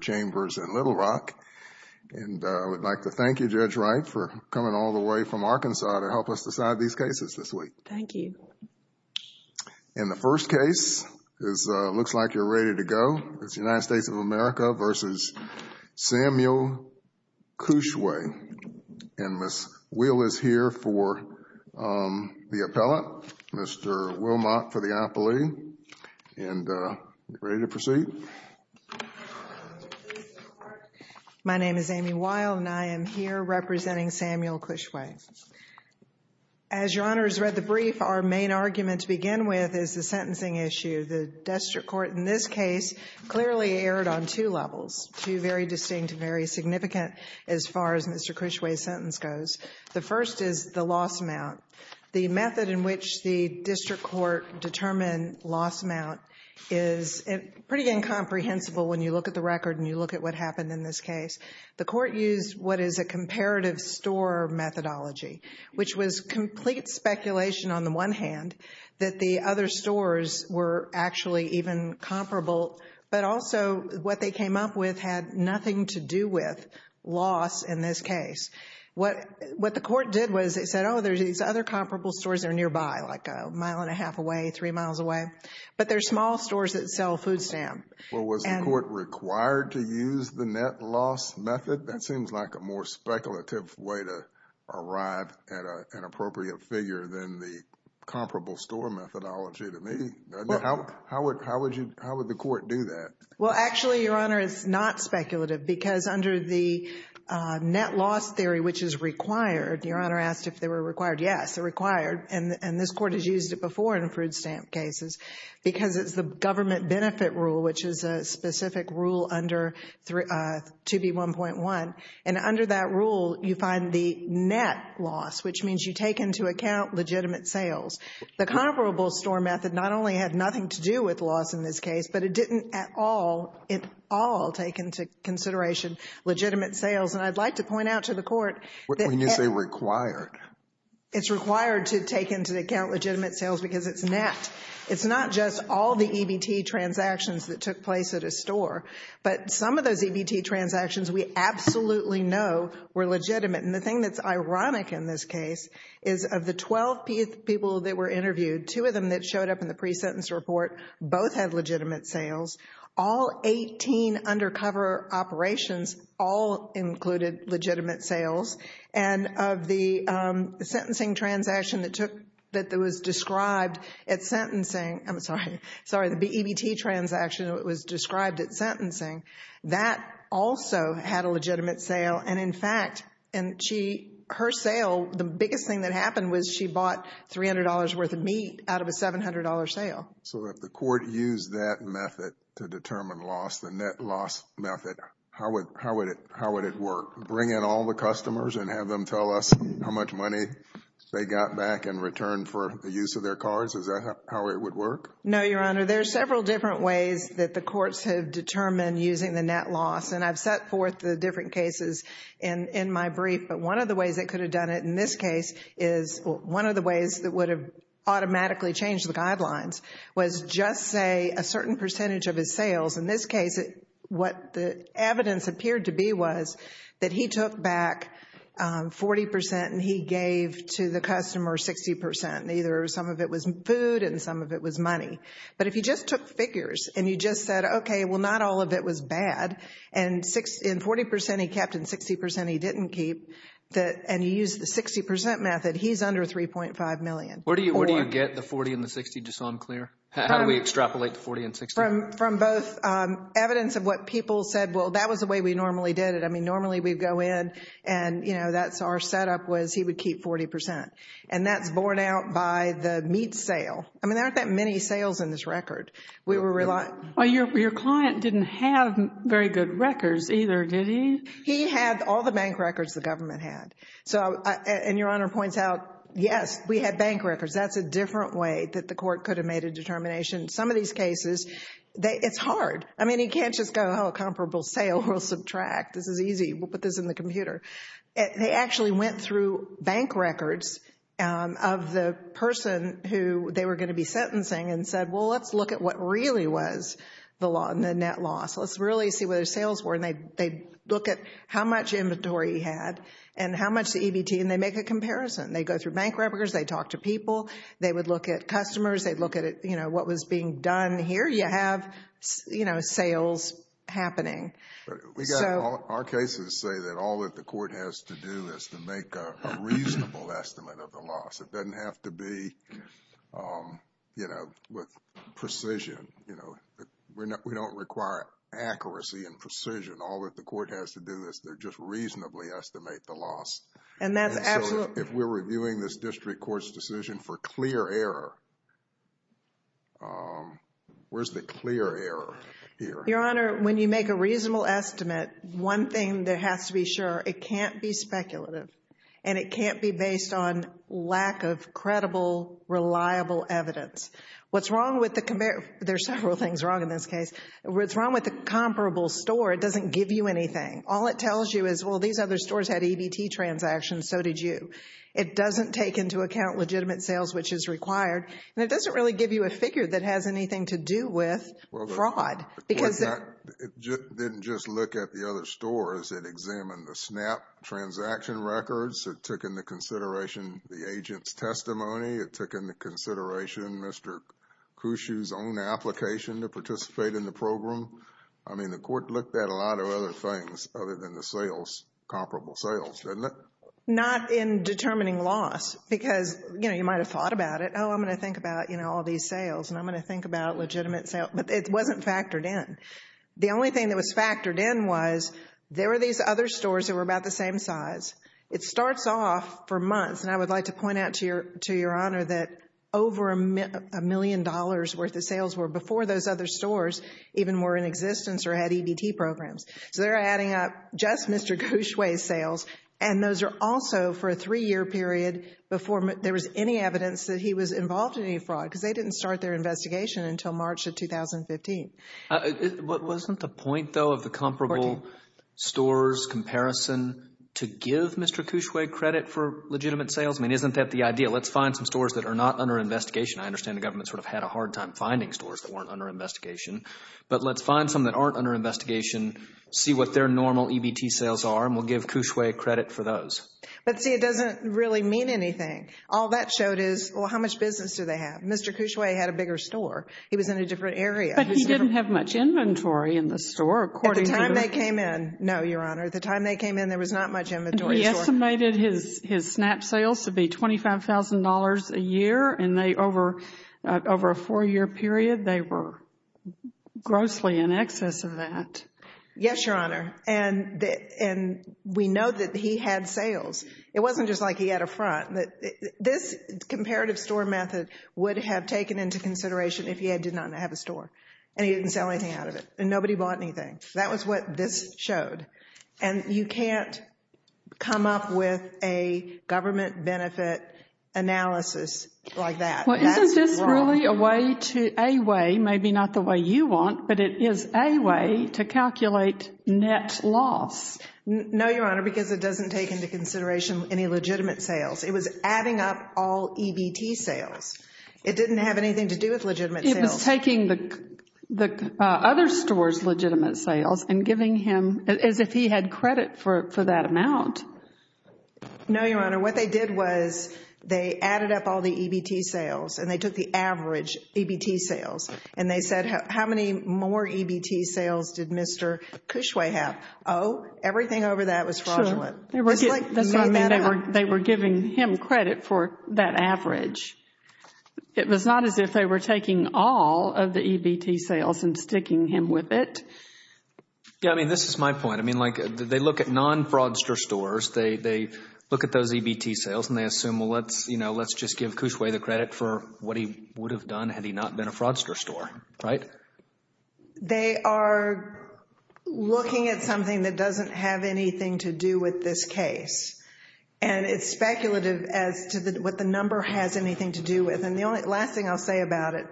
Chambers in Little Rock, and I would like to thank you, Judge Wright, for coming all the way from Arkansas to help us decide these cases this week. Thank you. And the first case is, looks like you're ready to go, it's the United States of America versus Samuel Kwushue, and Ms. Will is here for the appellate, Mr. Will Mott for the appellee, and we're ready to proceed. My name is Amy Weil, and I am here representing Samuel Kwushue. As Your Honor has read the brief, our main argument to begin with is the sentencing issue. The district court in this case clearly erred on two levels, two very distinct, very significant as far as Mr. Kwushue's sentence goes. The first is the loss amount. The method in which the district court determined loss amount is pretty incomprehensible when you look at the record and you look at what happened in this case. The court used what is a comparative store methodology, which was complete speculation on the one hand that the other stores were actually even comparable, but also what they came up with had nothing to do with loss in this case. What the court did was it said, oh, there's these other comparable stores that are nearby, like a mile and a half away, three miles away, but they're small stores that sell food stamps. Well, was the court required to use the net loss method? That seems like a more speculative way to arrive at an appropriate figure than the comparable store methodology to me. How would the court do that? Well, actually, Your Honor, it's not speculative because under the net loss theory, which is required, Your Honor asked if they were required. Yes, they're required, and this court has used it before in food stamp cases because it's the government benefit rule, which is a specific rule under 2B1.1, and under that rule you find the net loss, which means you take into account legitimate sales. The comparable store method not only had nothing to do with loss in this case, but it didn't at all, at all take into consideration legitimate sales, and I'd like to point out to the court What do you mean you say required? It's required to take into account legitimate sales because it's net. It's not just all the EBT transactions that took place at a store, but some of those EBT transactions we absolutely know were legitimate, and the thing that's ironic in this case is of the 12 people that were interviewed, two of them that showed up in the pre-sentence report, both had legitimate sales. All 18 undercover operations all included legitimate sales, and of the sentencing transaction that took, that was described at sentencing, I'm sorry, sorry, the EBT transaction was described at sentencing. That also had a legitimate sale, and in fact, and she, her sale, the biggest thing that So if the court used that method to determine loss, the net loss method, how would it work? Bring in all the customers and have them tell us how much money they got back in return for the use of their cards? Is that how it would work? No, Your Honor. There's several different ways that the courts have determined using the net loss, and I've set forth the different cases in my brief, but one of the ways they could have done it in this case is, one of the ways that would have automatically changed the guidelines was just say a certain percentage of his sales. In this case, what the evidence appeared to be was that he took back 40% and he gave to the customer 60%, and either some of it was food and some of it was money, but if you just took figures and you just said, okay, well, not all of it was bad, and 40% he kept and 60% he didn't keep, and you used the 60% method, he's under $3.5 million. Where do you get the 40% and the 60% just so I'm clear? How do we extrapolate the 40% and 60%? From both evidence of what people said, well, that was the way we normally did it. I mean, normally we'd go in and, you know, that's our setup was he would keep 40%, and that's borne out by the meat sale. I mean, there aren't that many sales in this record. We were relying... Well, your client didn't have very good records either, did he? He had all the bank records the government had, and your Honor points out, yes, we had bank records. That's a different way that the court could have made a determination. Some of these cases, it's hard. I mean, he can't just go, oh, comparable sale, we'll subtract. This is easy. We'll put this in the computer. They actually went through bank records of the person who they were going to be sentencing and said, well, let's look at what really was the net loss. Let's really see what their sales were, and they'd look at how much inventory he had and how much the EBT, and they'd make a comparison. They'd go through bank records. They'd talk to people. They would look at customers. They'd look at, you know, what was being done here. You have, you know, sales happening. Our cases say that all that the court has to do is to make a reasonable estimate of the loss. It doesn't have to be, you know, with precision. You know, we don't require accuracy and precision. All that the court has to do is to just reasonably estimate the loss. And so if we're reviewing this district court's decision for clear error, where's the clear error here? Your Honor, when you make a reasonable estimate, one thing that has to be sure, it can't be speculative and it can't be based on lack of credible, reliable evidence. What's wrong with the, there's several things wrong in this case, what's wrong with the comparable store, it doesn't give you anything. All it tells you is, well, these other stores had EBT transactions, so did you. It doesn't take into account legitimate sales, which is required, and it doesn't really give you a figure that has anything to do with fraud because It didn't just look at the other stores, it examined the SNAP transaction records, it took into consideration the agent's testimony, it took into consideration Mr. Cushu's own application to participate in the program. I mean, the court looked at a lot of other things other than the sales, comparable sales, didn't it? Not in determining loss because, you know, you might have thought about it, oh, I'm going to think about, you know, all these sales and I'm going to think about legitimate sales, but it wasn't factored in. The only thing that was factored in was there were these other stores that were about the same size. It starts off for months, and I would like to point out to your Honor that over a million dollars worth of sales were before those other stores even were in existence or had EBT programs. So they're adding up just Mr. Cushu's sales, and those are also for a three-year period before there was any evidence that he was involved in any fraud because they didn't start their investigation until March of 2015. Wasn't the point, though, of the comparable stores comparison to give Mr. Cushway credit for legitimate sales? I mean, isn't that the idea? Let's find some stores that are not under investigation. I understand the government sort of had a hard time finding stores that weren't under investigation, but let's find some that aren't under investigation, see what their normal EBT sales are, and we'll give Cushway credit for those. But see, it doesn't really mean anything. All that showed is, well, how much business do they have? Mr. Cushway had a bigger store. He was in a different area. But he didn't have much inventory in the store, according to the... At the time they came in, no, Your Honor. At the time they came in, there was not much inventory in the store. And he estimated his snap sales to be $25,000 a year, and they, over a four-year period, they were grossly in excess of that. Yes, Your Honor, and we know that he had sales. It wasn't just like he had a front. This comparative store method would have taken into consideration if he did not have a store. And he didn't sell anything out of it, and nobody bought anything. That was what this showed. And you can't come up with a government benefit analysis like that. Well, isn't this really a way to... a way, maybe not the way you want, but it is a way to calculate net loss? No, Your Honor, because it doesn't take into consideration any legitimate sales. It was adding up all EBT sales. It didn't have anything to do with legitimate sales. It was taking the other store's legitimate sales and giving him... as if he had credit for that amount. No, Your Honor, what they did was they added up all the EBT sales, and they took the average EBT sales, and they said, how many more EBT sales did Mr. Cushway have? Oh, everything over that was fraudulent. Sure. That's what I mean. They were giving him credit for that average. It was not as if they were taking all of the EBT sales and sticking him with it. Yeah, I mean, this is my point. I mean, like, they look at non-fraudster stores. They look at those EBT sales, and they assume, well, let's, you know, let's just give Cushway the credit for what he would have done had he not been a fraudster store, right? They are looking at something that doesn't have anything to do with this case, and it's And the last thing I'll say about it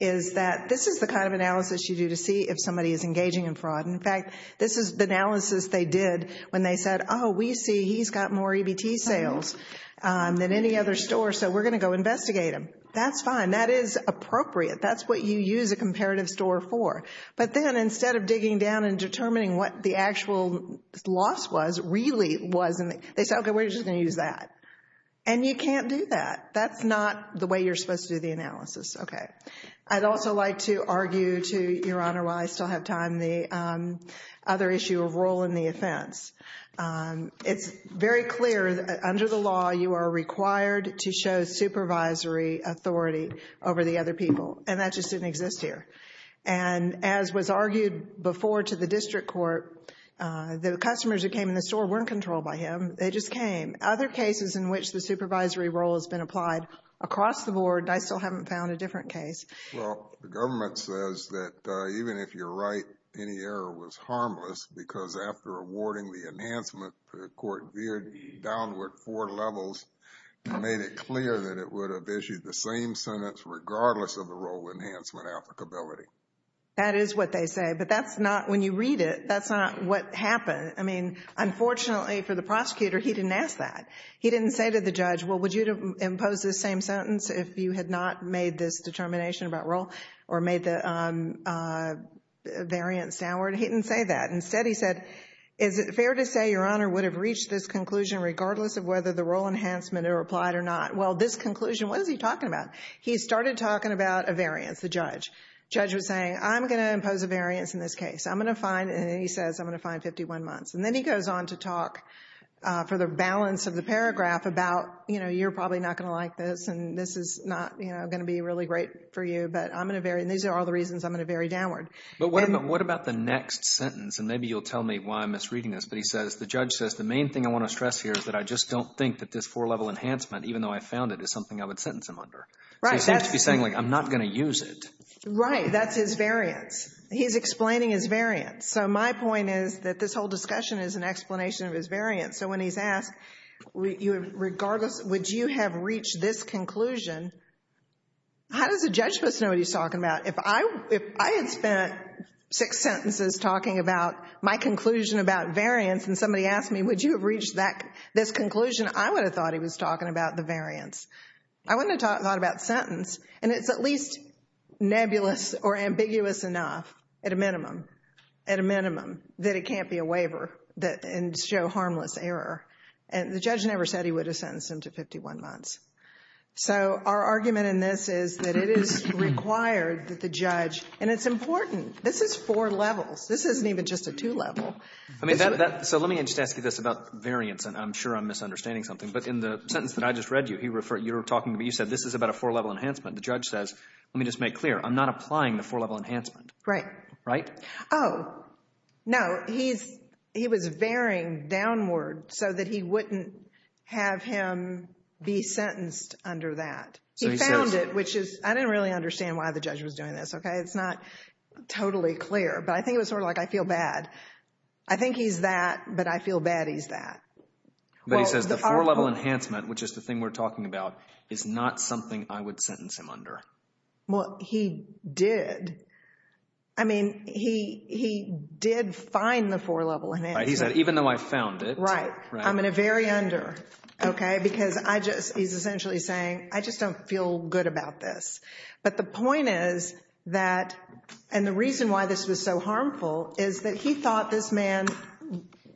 is that this is the kind of analysis you do to see if somebody is engaging in fraud. In fact, this is the analysis they did when they said, oh, we see he's got more EBT sales than any other store, so we're going to go investigate him. That's fine. That is appropriate. That's what you use a comparative store for. But then, instead of digging down and determining what the actual loss was, really was... and they said, okay, we're just going to use that. And you can't do that. That's not the way you're supposed to do the analysis. Okay. I'd also like to argue to Your Honor, while I still have time, the other issue of role in the offense. It's very clear that under the law, you are required to show supervisory authority over the other people, and that just didn't exist here. And as was argued before to the district court, the customers who came in the store weren't controlled by him. They just came. Other cases in which the supervisory role has been applied across the board, I still haven't found a different case. Well, the government says that even if you're right, any error was harmless because after awarding the enhancement, the court veered downward four levels and made it clear that it would have issued the same sentence regardless of the role enhancement applicability. That is what they say. But that's not... when you read it, that's not what happened. I mean, unfortunately for the prosecutor, he didn't ask that. He didn't say to the judge, well, would you impose the same sentence if you had not made this determination about role or made the variance downward? He didn't say that. Instead, he said, is it fair to say Your Honor would have reached this conclusion regardless of whether the role enhancement are applied or not? Well, this conclusion, what is he talking about? He started talking about a variance, the judge. Judge was saying, I'm going to impose a variance in this case. I'm going to find, and he says, I'm going to find 51 months. And then he goes on to talk for the balance of the paragraph about, you know, you're probably not going to like this and this is not, you know, going to be really great for you, but I'm going to vary. And these are all the reasons I'm going to vary downward. But what about the next sentence? And maybe you'll tell me why I'm misreading this, but he says, the judge says, the main thing I want to stress here is that I just don't think that this four-level enhancement, even though I found it, is something I would sentence him under. Right. So he seems to be saying, like, I'm not going to use it. Right. That's his variance. He's explaining his variance. So my point is that this whole discussion is an explanation of his variance. So when he's asked, regardless, would you have reached this conclusion, how does the judge know what he's talking about? If I had spent six sentences talking about my conclusion about variance and somebody asked me, would you have reached this conclusion, I would have thought he was talking about the variance. I wouldn't have thought about sentence. And it's at least nebulous or ambiguous enough, at a minimum, at a minimum, that it can't be a waiver and show harmless error. And the judge never said he would have sentenced him to 51 months. So our argument in this is that it is required that the judge, and it's important. This is four levels. This isn't even just a two-level. So let me just ask you this about variance, and I'm sure I'm misunderstanding something. But in the sentence that I just read you, you said this is about a four-level enhancement. The judge says, let me just make clear, I'm not applying the four-level enhancement. Right. Right? Oh. No. He's, he was varying downward so that he wouldn't have him be sentenced under that. He found it, which is, I didn't really understand why the judge was doing this, okay? It's not totally clear, but I think it was sort of like, I feel bad. I think he's that, but I feel bad he's that. But he says the four-level enhancement, which is the thing we're talking about, is not something I would sentence him under. Well, he did. I mean, he did find the four-level enhancement. Right. He said, even though I found it. Right. Right. I'm in a very under, okay? Because I just, he's essentially saying, I just don't feel good about this. But the point is that, and the reason why this was so harmful is that he thought this man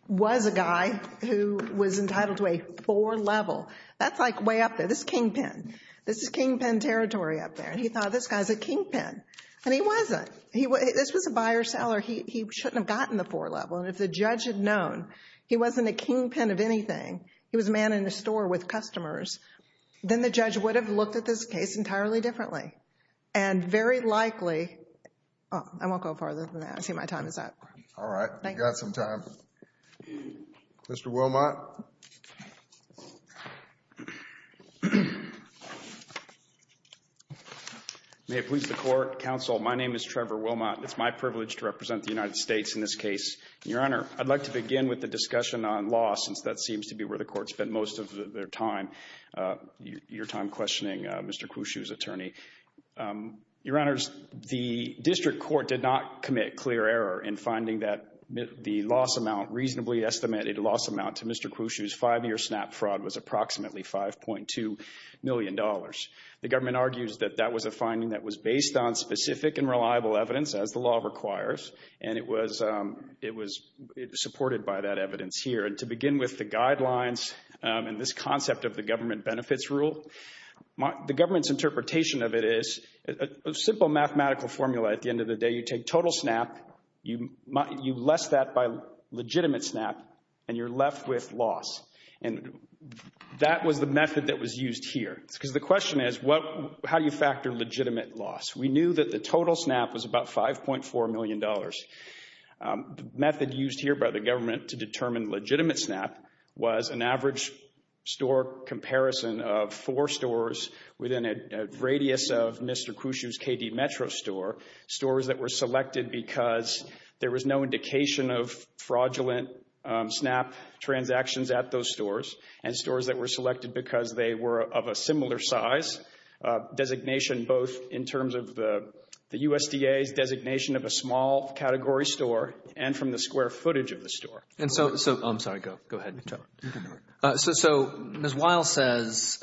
was a guy who was entitled to a four-level. That's like way up there. This is kingpin. This is kingpin territory up there, and he thought this guy's a kingpin, and he wasn't. This was a buyer-seller. He shouldn't have gotten the four-level, and if the judge had known he wasn't a kingpin of anything, he was a man in a store with customers, then the judge would have looked at this case entirely differently. And very likely, oh, I won't go farther than that. I see my time is up. Thank you. All right. You've got some time. Mr. Wilmot. May it please the Court, Counsel, my name is Trevor Wilmot, and it's my privilege to represent the United States in this case. Your Honor, I'd like to begin with the discussion on loss, since that seems to be where the Court spent most of their time, your time questioning Mr. Kwushu's attorney. Your Honors, the district court did not commit clear error in finding that the loss amount, reasonably estimated loss amount, to Mr. Kwushu's five-year SNAP fraud was approximately $5.2 million. The government argues that that was a finding that was based on specific and reliable evidence, as the law requires, and it was supported by that evidence here. And to begin with the guidelines and this concept of the government benefits rule, the government's interpretation of it is a simple mathematical formula at the end of the day. You take total SNAP, you less that by legitimate SNAP, and you're left with loss. And that was the method that was used here, because the question is, how do you factor legitimate loss? We knew that the total SNAP was about $5.4 million. The method used here by the government to determine legitimate SNAP was an average store comparison of four stores within a radius of Mr. Kwushu's KD Metro store, stores that were selected because there was no indication of fraudulent SNAP transactions at those stores, and stores that were selected because they were of a similar size, designation both in terms of the USDA's designation of a small category store and from the square footage of the store. And so, I'm sorry, go ahead. So Ms. Weill says,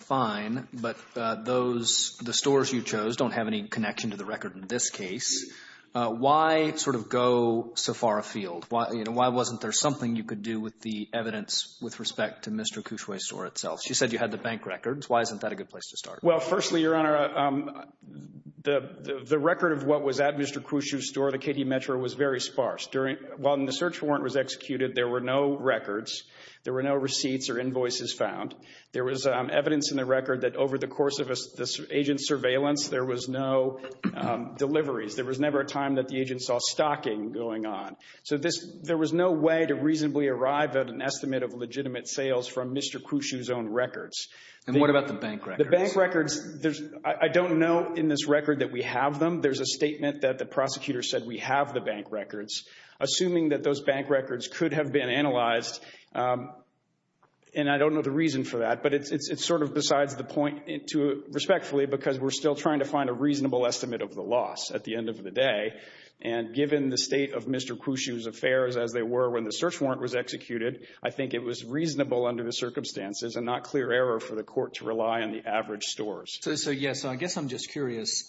fine, but the stores you chose don't have any connection to the record in this case. Why sort of go so far afield? Why wasn't there something you could do with the evidence with respect to Mr. Kwushu's store itself? She said you had the bank records. Why isn't that a good place to start? Well, firstly, Your Honor, the record of what was at Mr. Kwushu's store, the KD Metro, was very sparse. While the search warrant was executed, there were no records, there were no receipts or invoices found. There was evidence in the record that over the course of the agent's surveillance, there was no deliveries. There was never a time that the agent saw stocking going on. So there was no way to reasonably arrive at an estimate of legitimate sales from Mr. Kwushu's own records. And what about the bank records? The bank records, I don't know in this record that we have them. There's a statement that the prosecutor said we have the bank records. Assuming that those bank records could have been analyzed, and I don't know the reason for that, but it's sort of besides the point, respectfully, because we're still trying to find a reasonable estimate of the loss at the end of the day. And given the state of Mr. Kwushu's affairs as they were when the search warrant was executed, I think it was reasonable under the circumstances and not clear error for the court to rely on the average stores. So yes, I guess I'm just curious,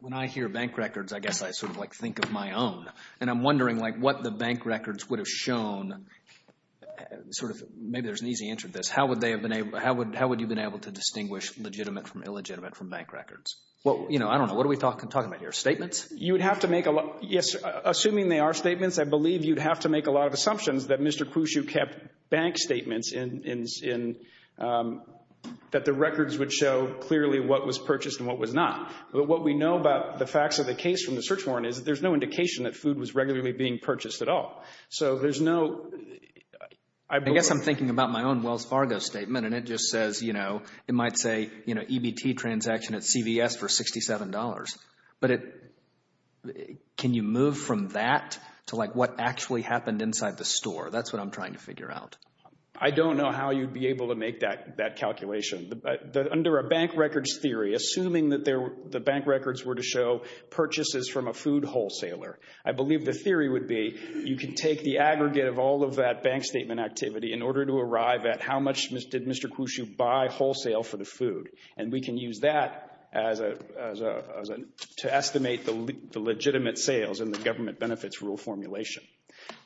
when I hear bank records, I guess I sort of like think of my own. And I'm wondering like what the bank records would have shown, sort of, maybe there's an easy answer to this. How would they have been able, how would you have been able to distinguish legitimate from illegitimate from bank records? Well, you know, I don't know. What are we talking about here, statements? You would have to make a lot, yes, assuming they are statements, I believe you'd have to make a lot of assumptions that Mr. Kwushu kept bank statements in, that the records would show clearly what was purchased and what was not. But what we know about the facts of the case from the search warrant is there's no indication that food was regularly being purchased at all. So there's no... I guess I'm thinking about my own Wells Fargo statement and it just says, you know, it might say, you know, EBT transaction at CVS for $67. But can you move from that to like what actually happened inside the store? That's what I'm trying to figure out. I don't know how you'd be able to make that calculation. Under a bank records theory, assuming that the bank records were to show purchases from a food wholesaler, I believe the theory would be you can take the aggregate of all of that bank statement activity in order to arrive at how much did Mr. Kwushu buy wholesale for the food. And we can use that to estimate the legitimate sales in the government benefits rule formulation.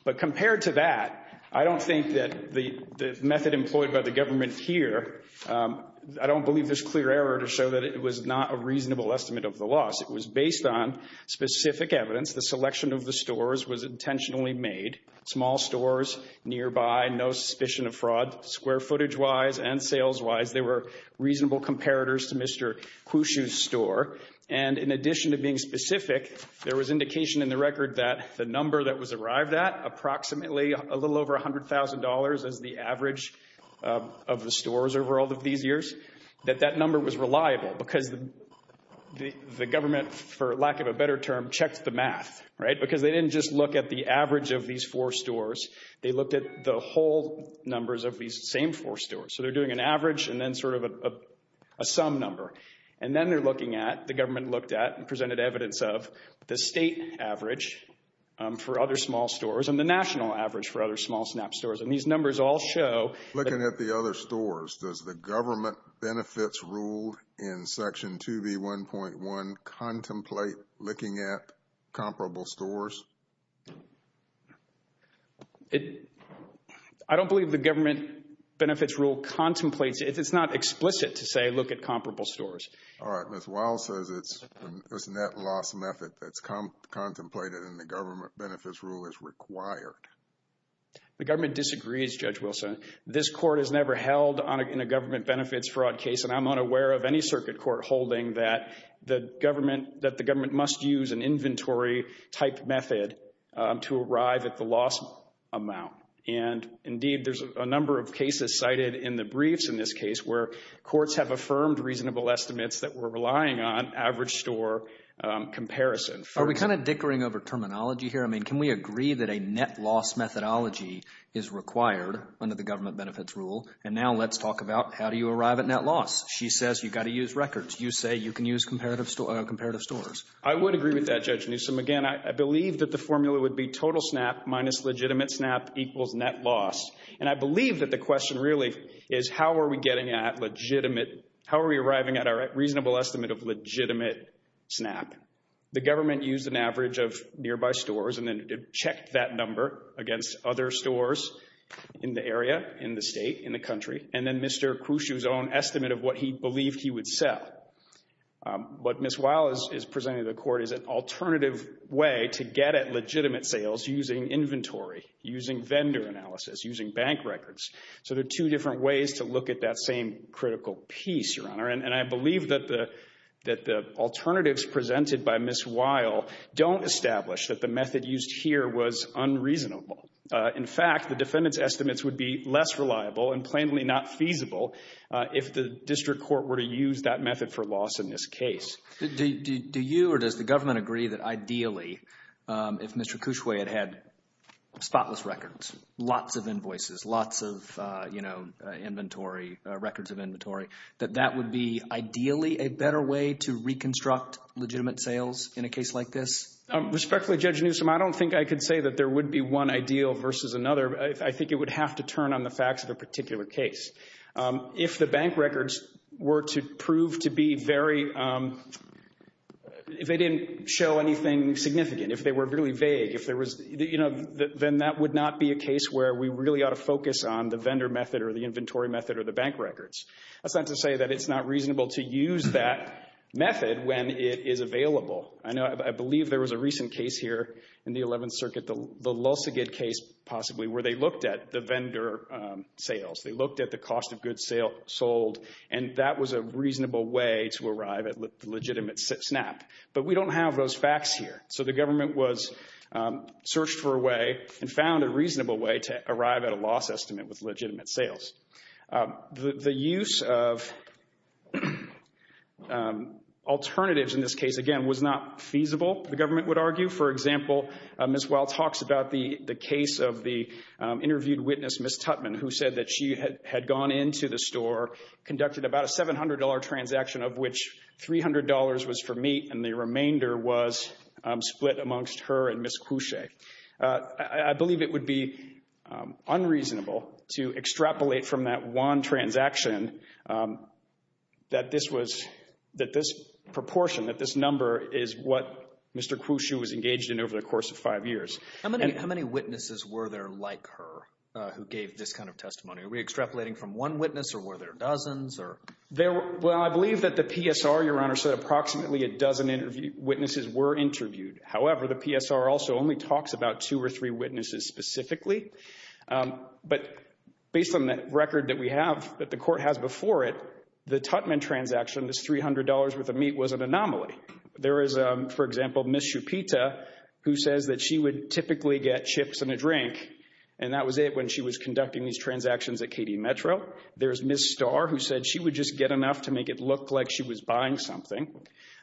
But compared to that, I don't think that the method employed by the government here, I don't believe there's clear error to show that it was not a reasonable estimate of the loss. It was based on specific evidence. The selection of the stores was intentionally made. Small stores nearby, no suspicion of fraud. Square footage wise and sales wise, they were reasonable comparators to Mr. Kwushu's store. And in addition to being specific, there was indication in the record that the number that was arrived at, approximately a little over $100,000 as the average of the stores over all of these years, that that number was reliable because the government, for lack of a better term, checked the math, right? Because they didn't just look at the average of these four stores, they looked at the whole numbers of these same four stores. So they're doing an average and then sort of a sum number. And then they're looking at, the government looked at and presented evidence of, the state average for other small stores and the national average for other small SNAP stores. And these numbers all show... Does the government benefits rule in section 2B1.1 contemplate looking at comparable stores? I don't believe the government benefits rule contemplates it. It's not explicit to say, look at comparable stores. All right. Ms. Wiles says it's a net loss method that's contemplated and the government benefits rule is required. The government disagrees, Judge Wilson. This court has never held in a government benefits fraud case and I'm unaware of any circuit court holding that the government must use an inventory type method to arrive at the loss amount. And indeed, there's a number of cases cited in the briefs in this case where courts have affirmed reasonable estimates that we're relying on average store comparison. Are we kind of dickering over terminology here? I mean, can we agree that a net loss methodology is required under the government benefits rule? And now let's talk about how do you arrive at net loss? She says you've got to use records. You say you can use comparative stores. I would agree with that, Judge Newsom. Again, I believe that the formula would be total SNAP minus legitimate SNAP equals net loss. And I believe that the question really is how are we getting at legitimate... How are we arriving at a reasonable estimate of legitimate SNAP? The government used an average of nearby stores and then checked that number against other stores in the area, in the state, in the country, and then Mr. Khrushchev's own estimate of what he believed he would sell. What Ms. Weil is presenting to the court is an alternative way to get at legitimate sales using inventory, using vendor analysis, using bank records. So there are two different ways to look at that same critical piece, Your Honor. And I believe that the alternatives presented by Ms. Weil don't establish that the method used here was unreasonable. In fact, the defendant's estimates would be less reliable and plainly not feasible if the district court were to use that method for loss in this case. Do you or does the government agree that ideally if Mr. Khrushchev had had spotless records, lots of invoices, lots of, you know, inventory, records of inventory, that that would be ideally a better way to reconstruct legitimate sales in a case like this? Respectfully, Judge Newsom, I don't think I could say that there would be one ideal versus another. I think it would have to turn on the facts of a particular case. If the bank records were to prove to be very... If they didn't show anything significant, if they were really vague, if there was, you know, a case where we really ought to focus on the vendor method or the inventory method or the bank records, that's not to say that it's not reasonable to use that method when it is available. I know, I believe there was a recent case here in the 11th Circuit, the Lulzigid case possibly where they looked at the vendor sales. They looked at the cost of goods sold, and that was a reasonable way to arrive at legitimate SNAP. But we don't have those facts here. So the government was searched for a way and found a reasonable way to arrive at a loss estimate with legitimate sales. The use of alternatives in this case, again, was not feasible, the government would argue. For example, Ms. Weil talks about the case of the interviewed witness, Ms. Tutman, who said that she had gone into the store, conducted about a $700 transaction of which $300 was for meat, and the remainder was split amongst her and Ms. Couchet. I believe it would be unreasonable to extrapolate from that one transaction that this was, that this proportion, that this number is what Mr. Couchet was engaged in over the course of five years. How many witnesses were there like her who gave this kind of testimony? Are we extrapolating from one witness or were there dozens or? Well, I believe that the PSR, Your Honor, said approximately a dozen witnesses were interviewed. However, the PSR also only talks about two or three witnesses specifically. But based on the record that we have, that the court has before it, the Tutman transaction, this $300 worth of meat, was an anomaly. There is, for example, Ms. Chupita, who says that she would typically get chips and a drink, and that was it when she was conducting these transactions at KD Metro. There's Ms. Starr, who said she would just get enough to make it look like she was buying something.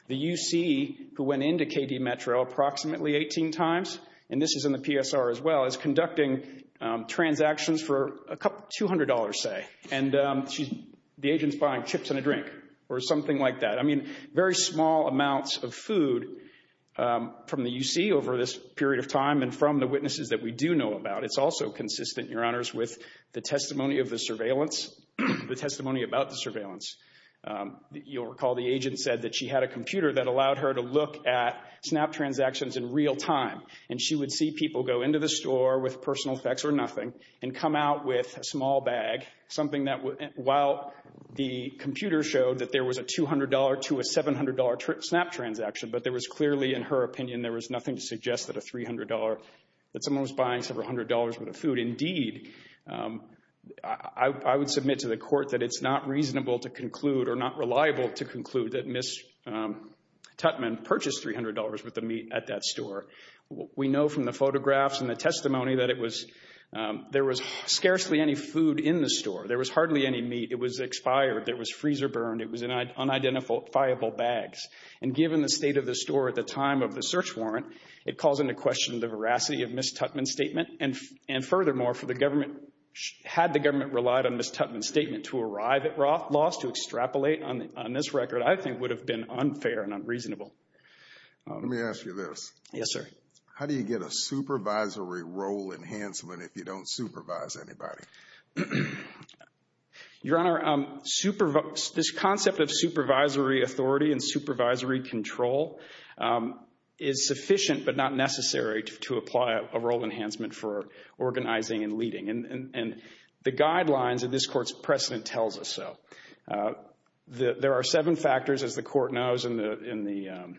The UC, who went into KD Metro approximately 18 times, and this is in the PSR as well, is conducting transactions for $200, say, and the agent's buying chips and a drink or something like that. I mean, very small amounts of food from the UC over this period of time and from the witnesses that we do know about. It's also consistent, Your Honors, with the testimony of the surveillance, the testimony about the surveillance. You'll recall the agent said that she had a computer that allowed her to look at SNAP transactions in real time, and she would see people go into the store with personal effects or nothing and come out with a small bag, something that, while the computer showed that there was a $200 to a $700 SNAP transaction, but there was clearly, in her opinion, there was nothing to suggest that a $300, that someone was buying several hundred dollars worth of food. Indeed, I would submit to the court that it's not reasonable to conclude or not reliable to conclude that Ms. Tutman purchased $300 worth of meat at that store. We know from the photographs and the testimony that it was, there was scarcely any food in the store. There was hardly any meat. It was expired. There was freezer burned. It was in unidentifiable bags. And given the state of the store at the time of the search warrant, it calls into question the veracity of Ms. Tutman's statement. And furthermore, for the government, had the government relied on Ms. Tutman's statement to arrive at Roth's loss, to extrapolate on this record, I think would have been unfair and unreasonable. Let me ask you this. Yes, sir. How do you get a supervisory role enhancement if you don't supervise anybody? Your Honor, this concept of supervisory authority and supervisory control is sufficient but not necessary to apply a role enhancement for organizing and leading. And the guidelines of this court's precedent tells us so. There are seven factors, as the court knows, in the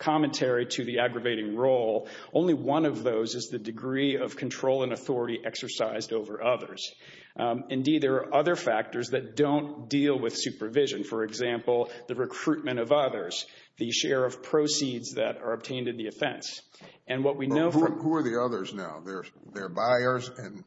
commentary to the aggravating role. Only one of those is the degree of control and authority exercised over others. Indeed, there are other factors that don't deal with supervision. For example, the recruitment of others, the share of proceeds that are obtained in the offense. And what we know from- Who are the others now? They're buyers and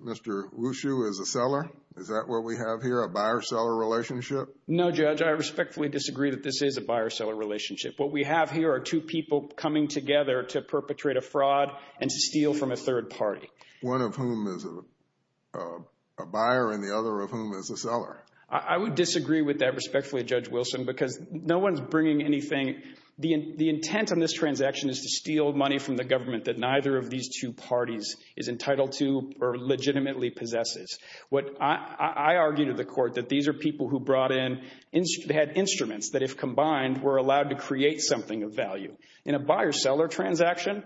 Mr. Wushu is a seller? Is that what we have here, a buyer-seller relationship? No, Judge. I respectfully disagree that this is a buyer-seller relationship. What we have here are two people coming together to perpetrate a fraud and to steal from a third party. One of whom is a buyer and the other of whom is a seller? I would disagree with that respectfully, Judge Wilson, because no one's bringing anything. The intent on this transaction is to steal money from the government that neither of these two parties is entitled to or legitimately possesses. What I argue to the court, that these are people who brought in, had instruments that if combined, were allowed to create something of value. In a buyer-seller transaction,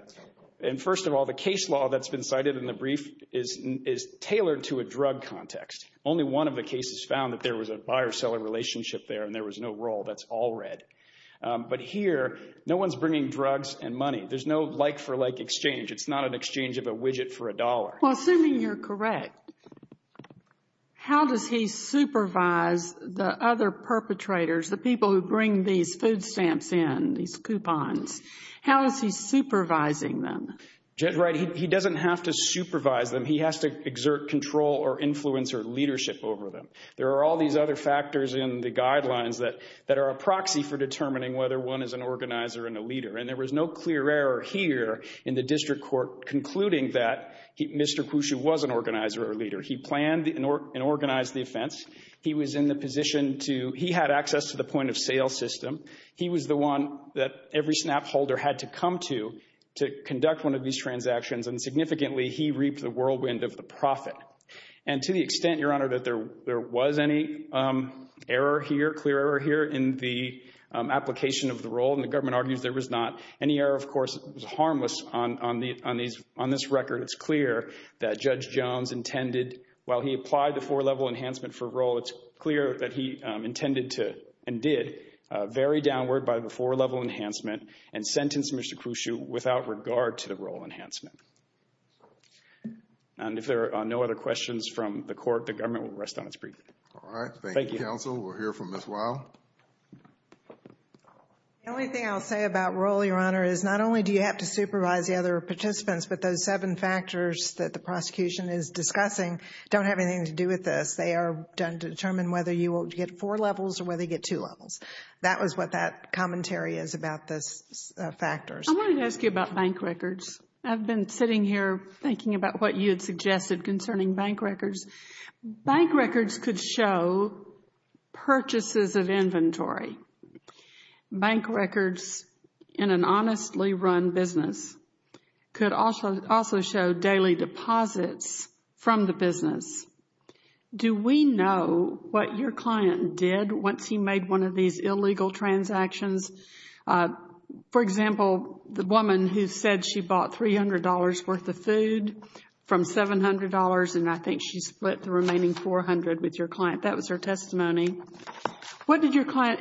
and first of all, the case law that's been cited in the brief is tailored to a drug context. Only one of the cases found that there was a buyer-seller relationship there and there was no role. That's all red. But here, no one's bringing drugs and money. There's no like-for-like exchange. It's not an exchange of a widget for a dollar. Well, assuming you're correct, how does he supervise the other perpetrators, the people who bring these food stamps in, these coupons, how is he supervising them? Judge Wright, he doesn't have to supervise them. He has to exert control or influence or leadership over them. There are all these other factors in the guidelines that are a proxy for determining whether one is an organizer and a leader. And there was no clear error here in the district court concluding that Mr. Khrushchev was an organizer or a leader. He planned and organized the offense. He was in the position to—he had access to the point-of-sale system. He was the one that every SNAP holder had to come to to conduct one of these transactions. And significantly, he reaped the whirlwind of the profit. And to the extent, Your Honor, that there was any error here, clear error here, in the application of the role—and the government argues there was not any error, of course, it was harmless on this record—it's clear that Judge Jones intended, while he applied the four-level enhancement for role, it's clear that he intended to, and did, vary downward by the four-level enhancement and sentence Mr. Khrushchev without regard to the role enhancement. And if there are no other questions from the court, the government will rest on its breath. All right. Thank you, counsel. We'll hear from Ms. Weil. The only thing I'll say about role, Your Honor, is not only do you have to supervise the other participants, but those seven factors that the prosecution is discussing don't have anything to do with this. They are done to determine whether you will get four levels or whether you get two levels. That was what that commentary is about those factors. I wanted to ask you about bank records. I've been sitting here thinking about what you had suggested concerning bank records. Bank records could show purchases of inventory. Bank records in an honestly run business could also show daily deposits from the business. Do we know what your client did once he made one of these illegal transactions? For example, the woman who said she bought $300 worth of food from $700, and I think she split the remaining $400 with your client. That was her testimony.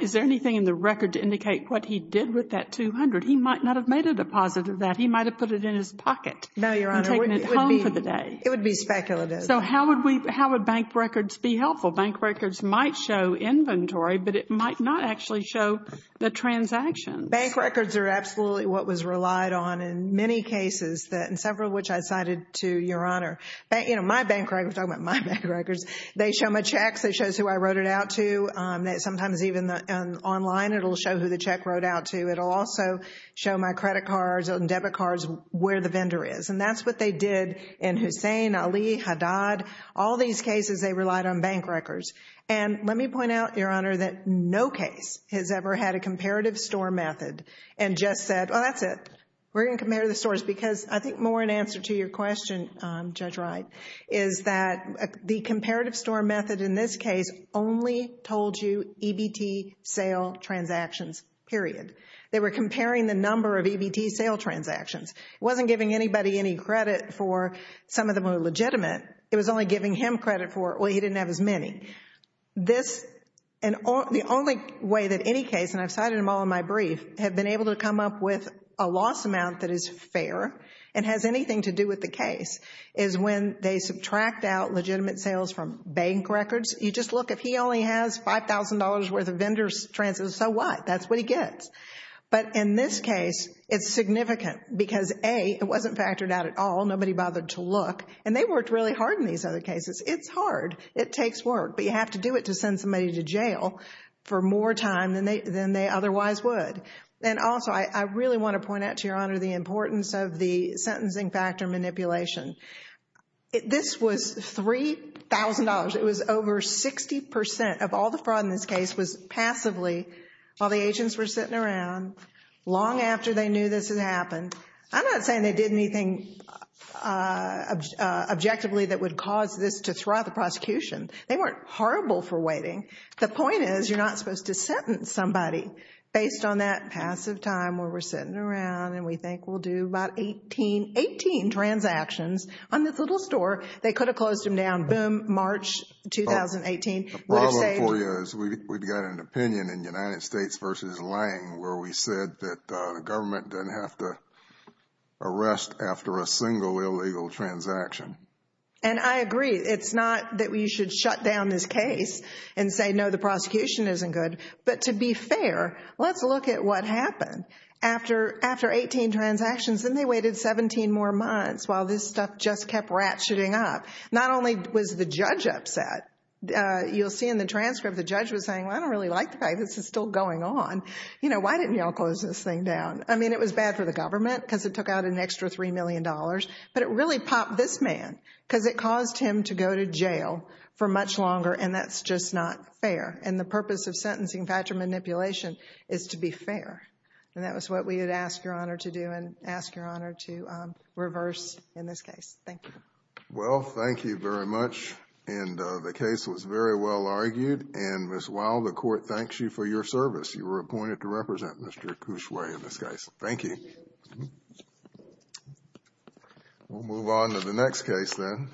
Is there anything in the record to indicate what he did with that $200? He might not have made a deposit of that. He might have put it in his pocket and taken it home for the day. No, Your Honor. It would be speculative. So how would bank records be helpful? Bank records might show inventory, but it might not actually show the transactions. Bank records are absolutely what was relied on in many cases, several of which I cited to Your Honor. You know, my bank records, I'm talking about my bank records. They show my checks. It shows who I wrote it out to. Sometimes even online, it will show who the check wrote out to. It will also show my credit cards and debit cards where the vendor is. And that's what they did in Hussain, Ali, Haddad. All these cases, they relied on bank records. And let me point out, Your Honor, that no case has ever had a comparative store method and just said, well, that's it, we're going to compare the stores. I think more in answer to your question, Judge Wright, is that the comparative store method in this case only told you EBT sale transactions, period. They were comparing the number of EBT sale transactions. It wasn't giving anybody any credit for some of them were legitimate. It was only giving him credit for, well, he didn't have as many. The only way that any case, and I've cited them all in my brief, have been able to come up with a loss amount that is fair and has anything to do with the case, is when they subtract out legitimate sales from bank records. You just look, if he only has $5,000 worth of vendor's transfers, so what? That's what he gets. But in this case, it's significant because A, it wasn't factored out at all, nobody bothered to look, and they worked really hard in these other cases. It's hard. It takes work. But you have to do it to send somebody to jail for more time than they otherwise would. And also, I really want to point out to Your Honor the importance of the sentencing factor manipulation. This was $3,000. It was over 60% of all the fraud in this case was passively while the agents were sitting around long after they knew this had happened. I'm not saying they did anything objectively that would cause this to thwart the prosecution. They weren't horrible for waiting. The point is, you're not supposed to sentence somebody based on that passive time where we're sitting around and we think we'll do about 18, 18 transactions on this little store. They could have closed them down, boom, March 2018, would have saved... The problem for you is we've got an opinion in United States v. Lange where we said that the government doesn't have to arrest after a single illegal transaction. And I agree. It's not that we should shut down this case and say, no, the prosecution isn't good. But to be fair, let's look at what happened. After 18 transactions, then they waited 17 more months while this stuff just kept ratcheting up. Not only was the judge upset, you'll see in the transcript the judge was saying, well, I don't really like the fact that this is still going on. You know, why didn't y'all close this thing down? I mean, it was bad for the government because it took out an extra $3 million, but it really popped this man because it caused him to go to jail for much longer, and that's just not fair. And the purpose of sentencing factor manipulation is to be fair. And that was what we had asked Your Honor to do and ask Your Honor to reverse in this case. Thank you. Well, thank you very much. And the case was very well argued, and Ms. Wild, the court thanks you for your service. Thank you. Thank you. We'll move on to the next case then.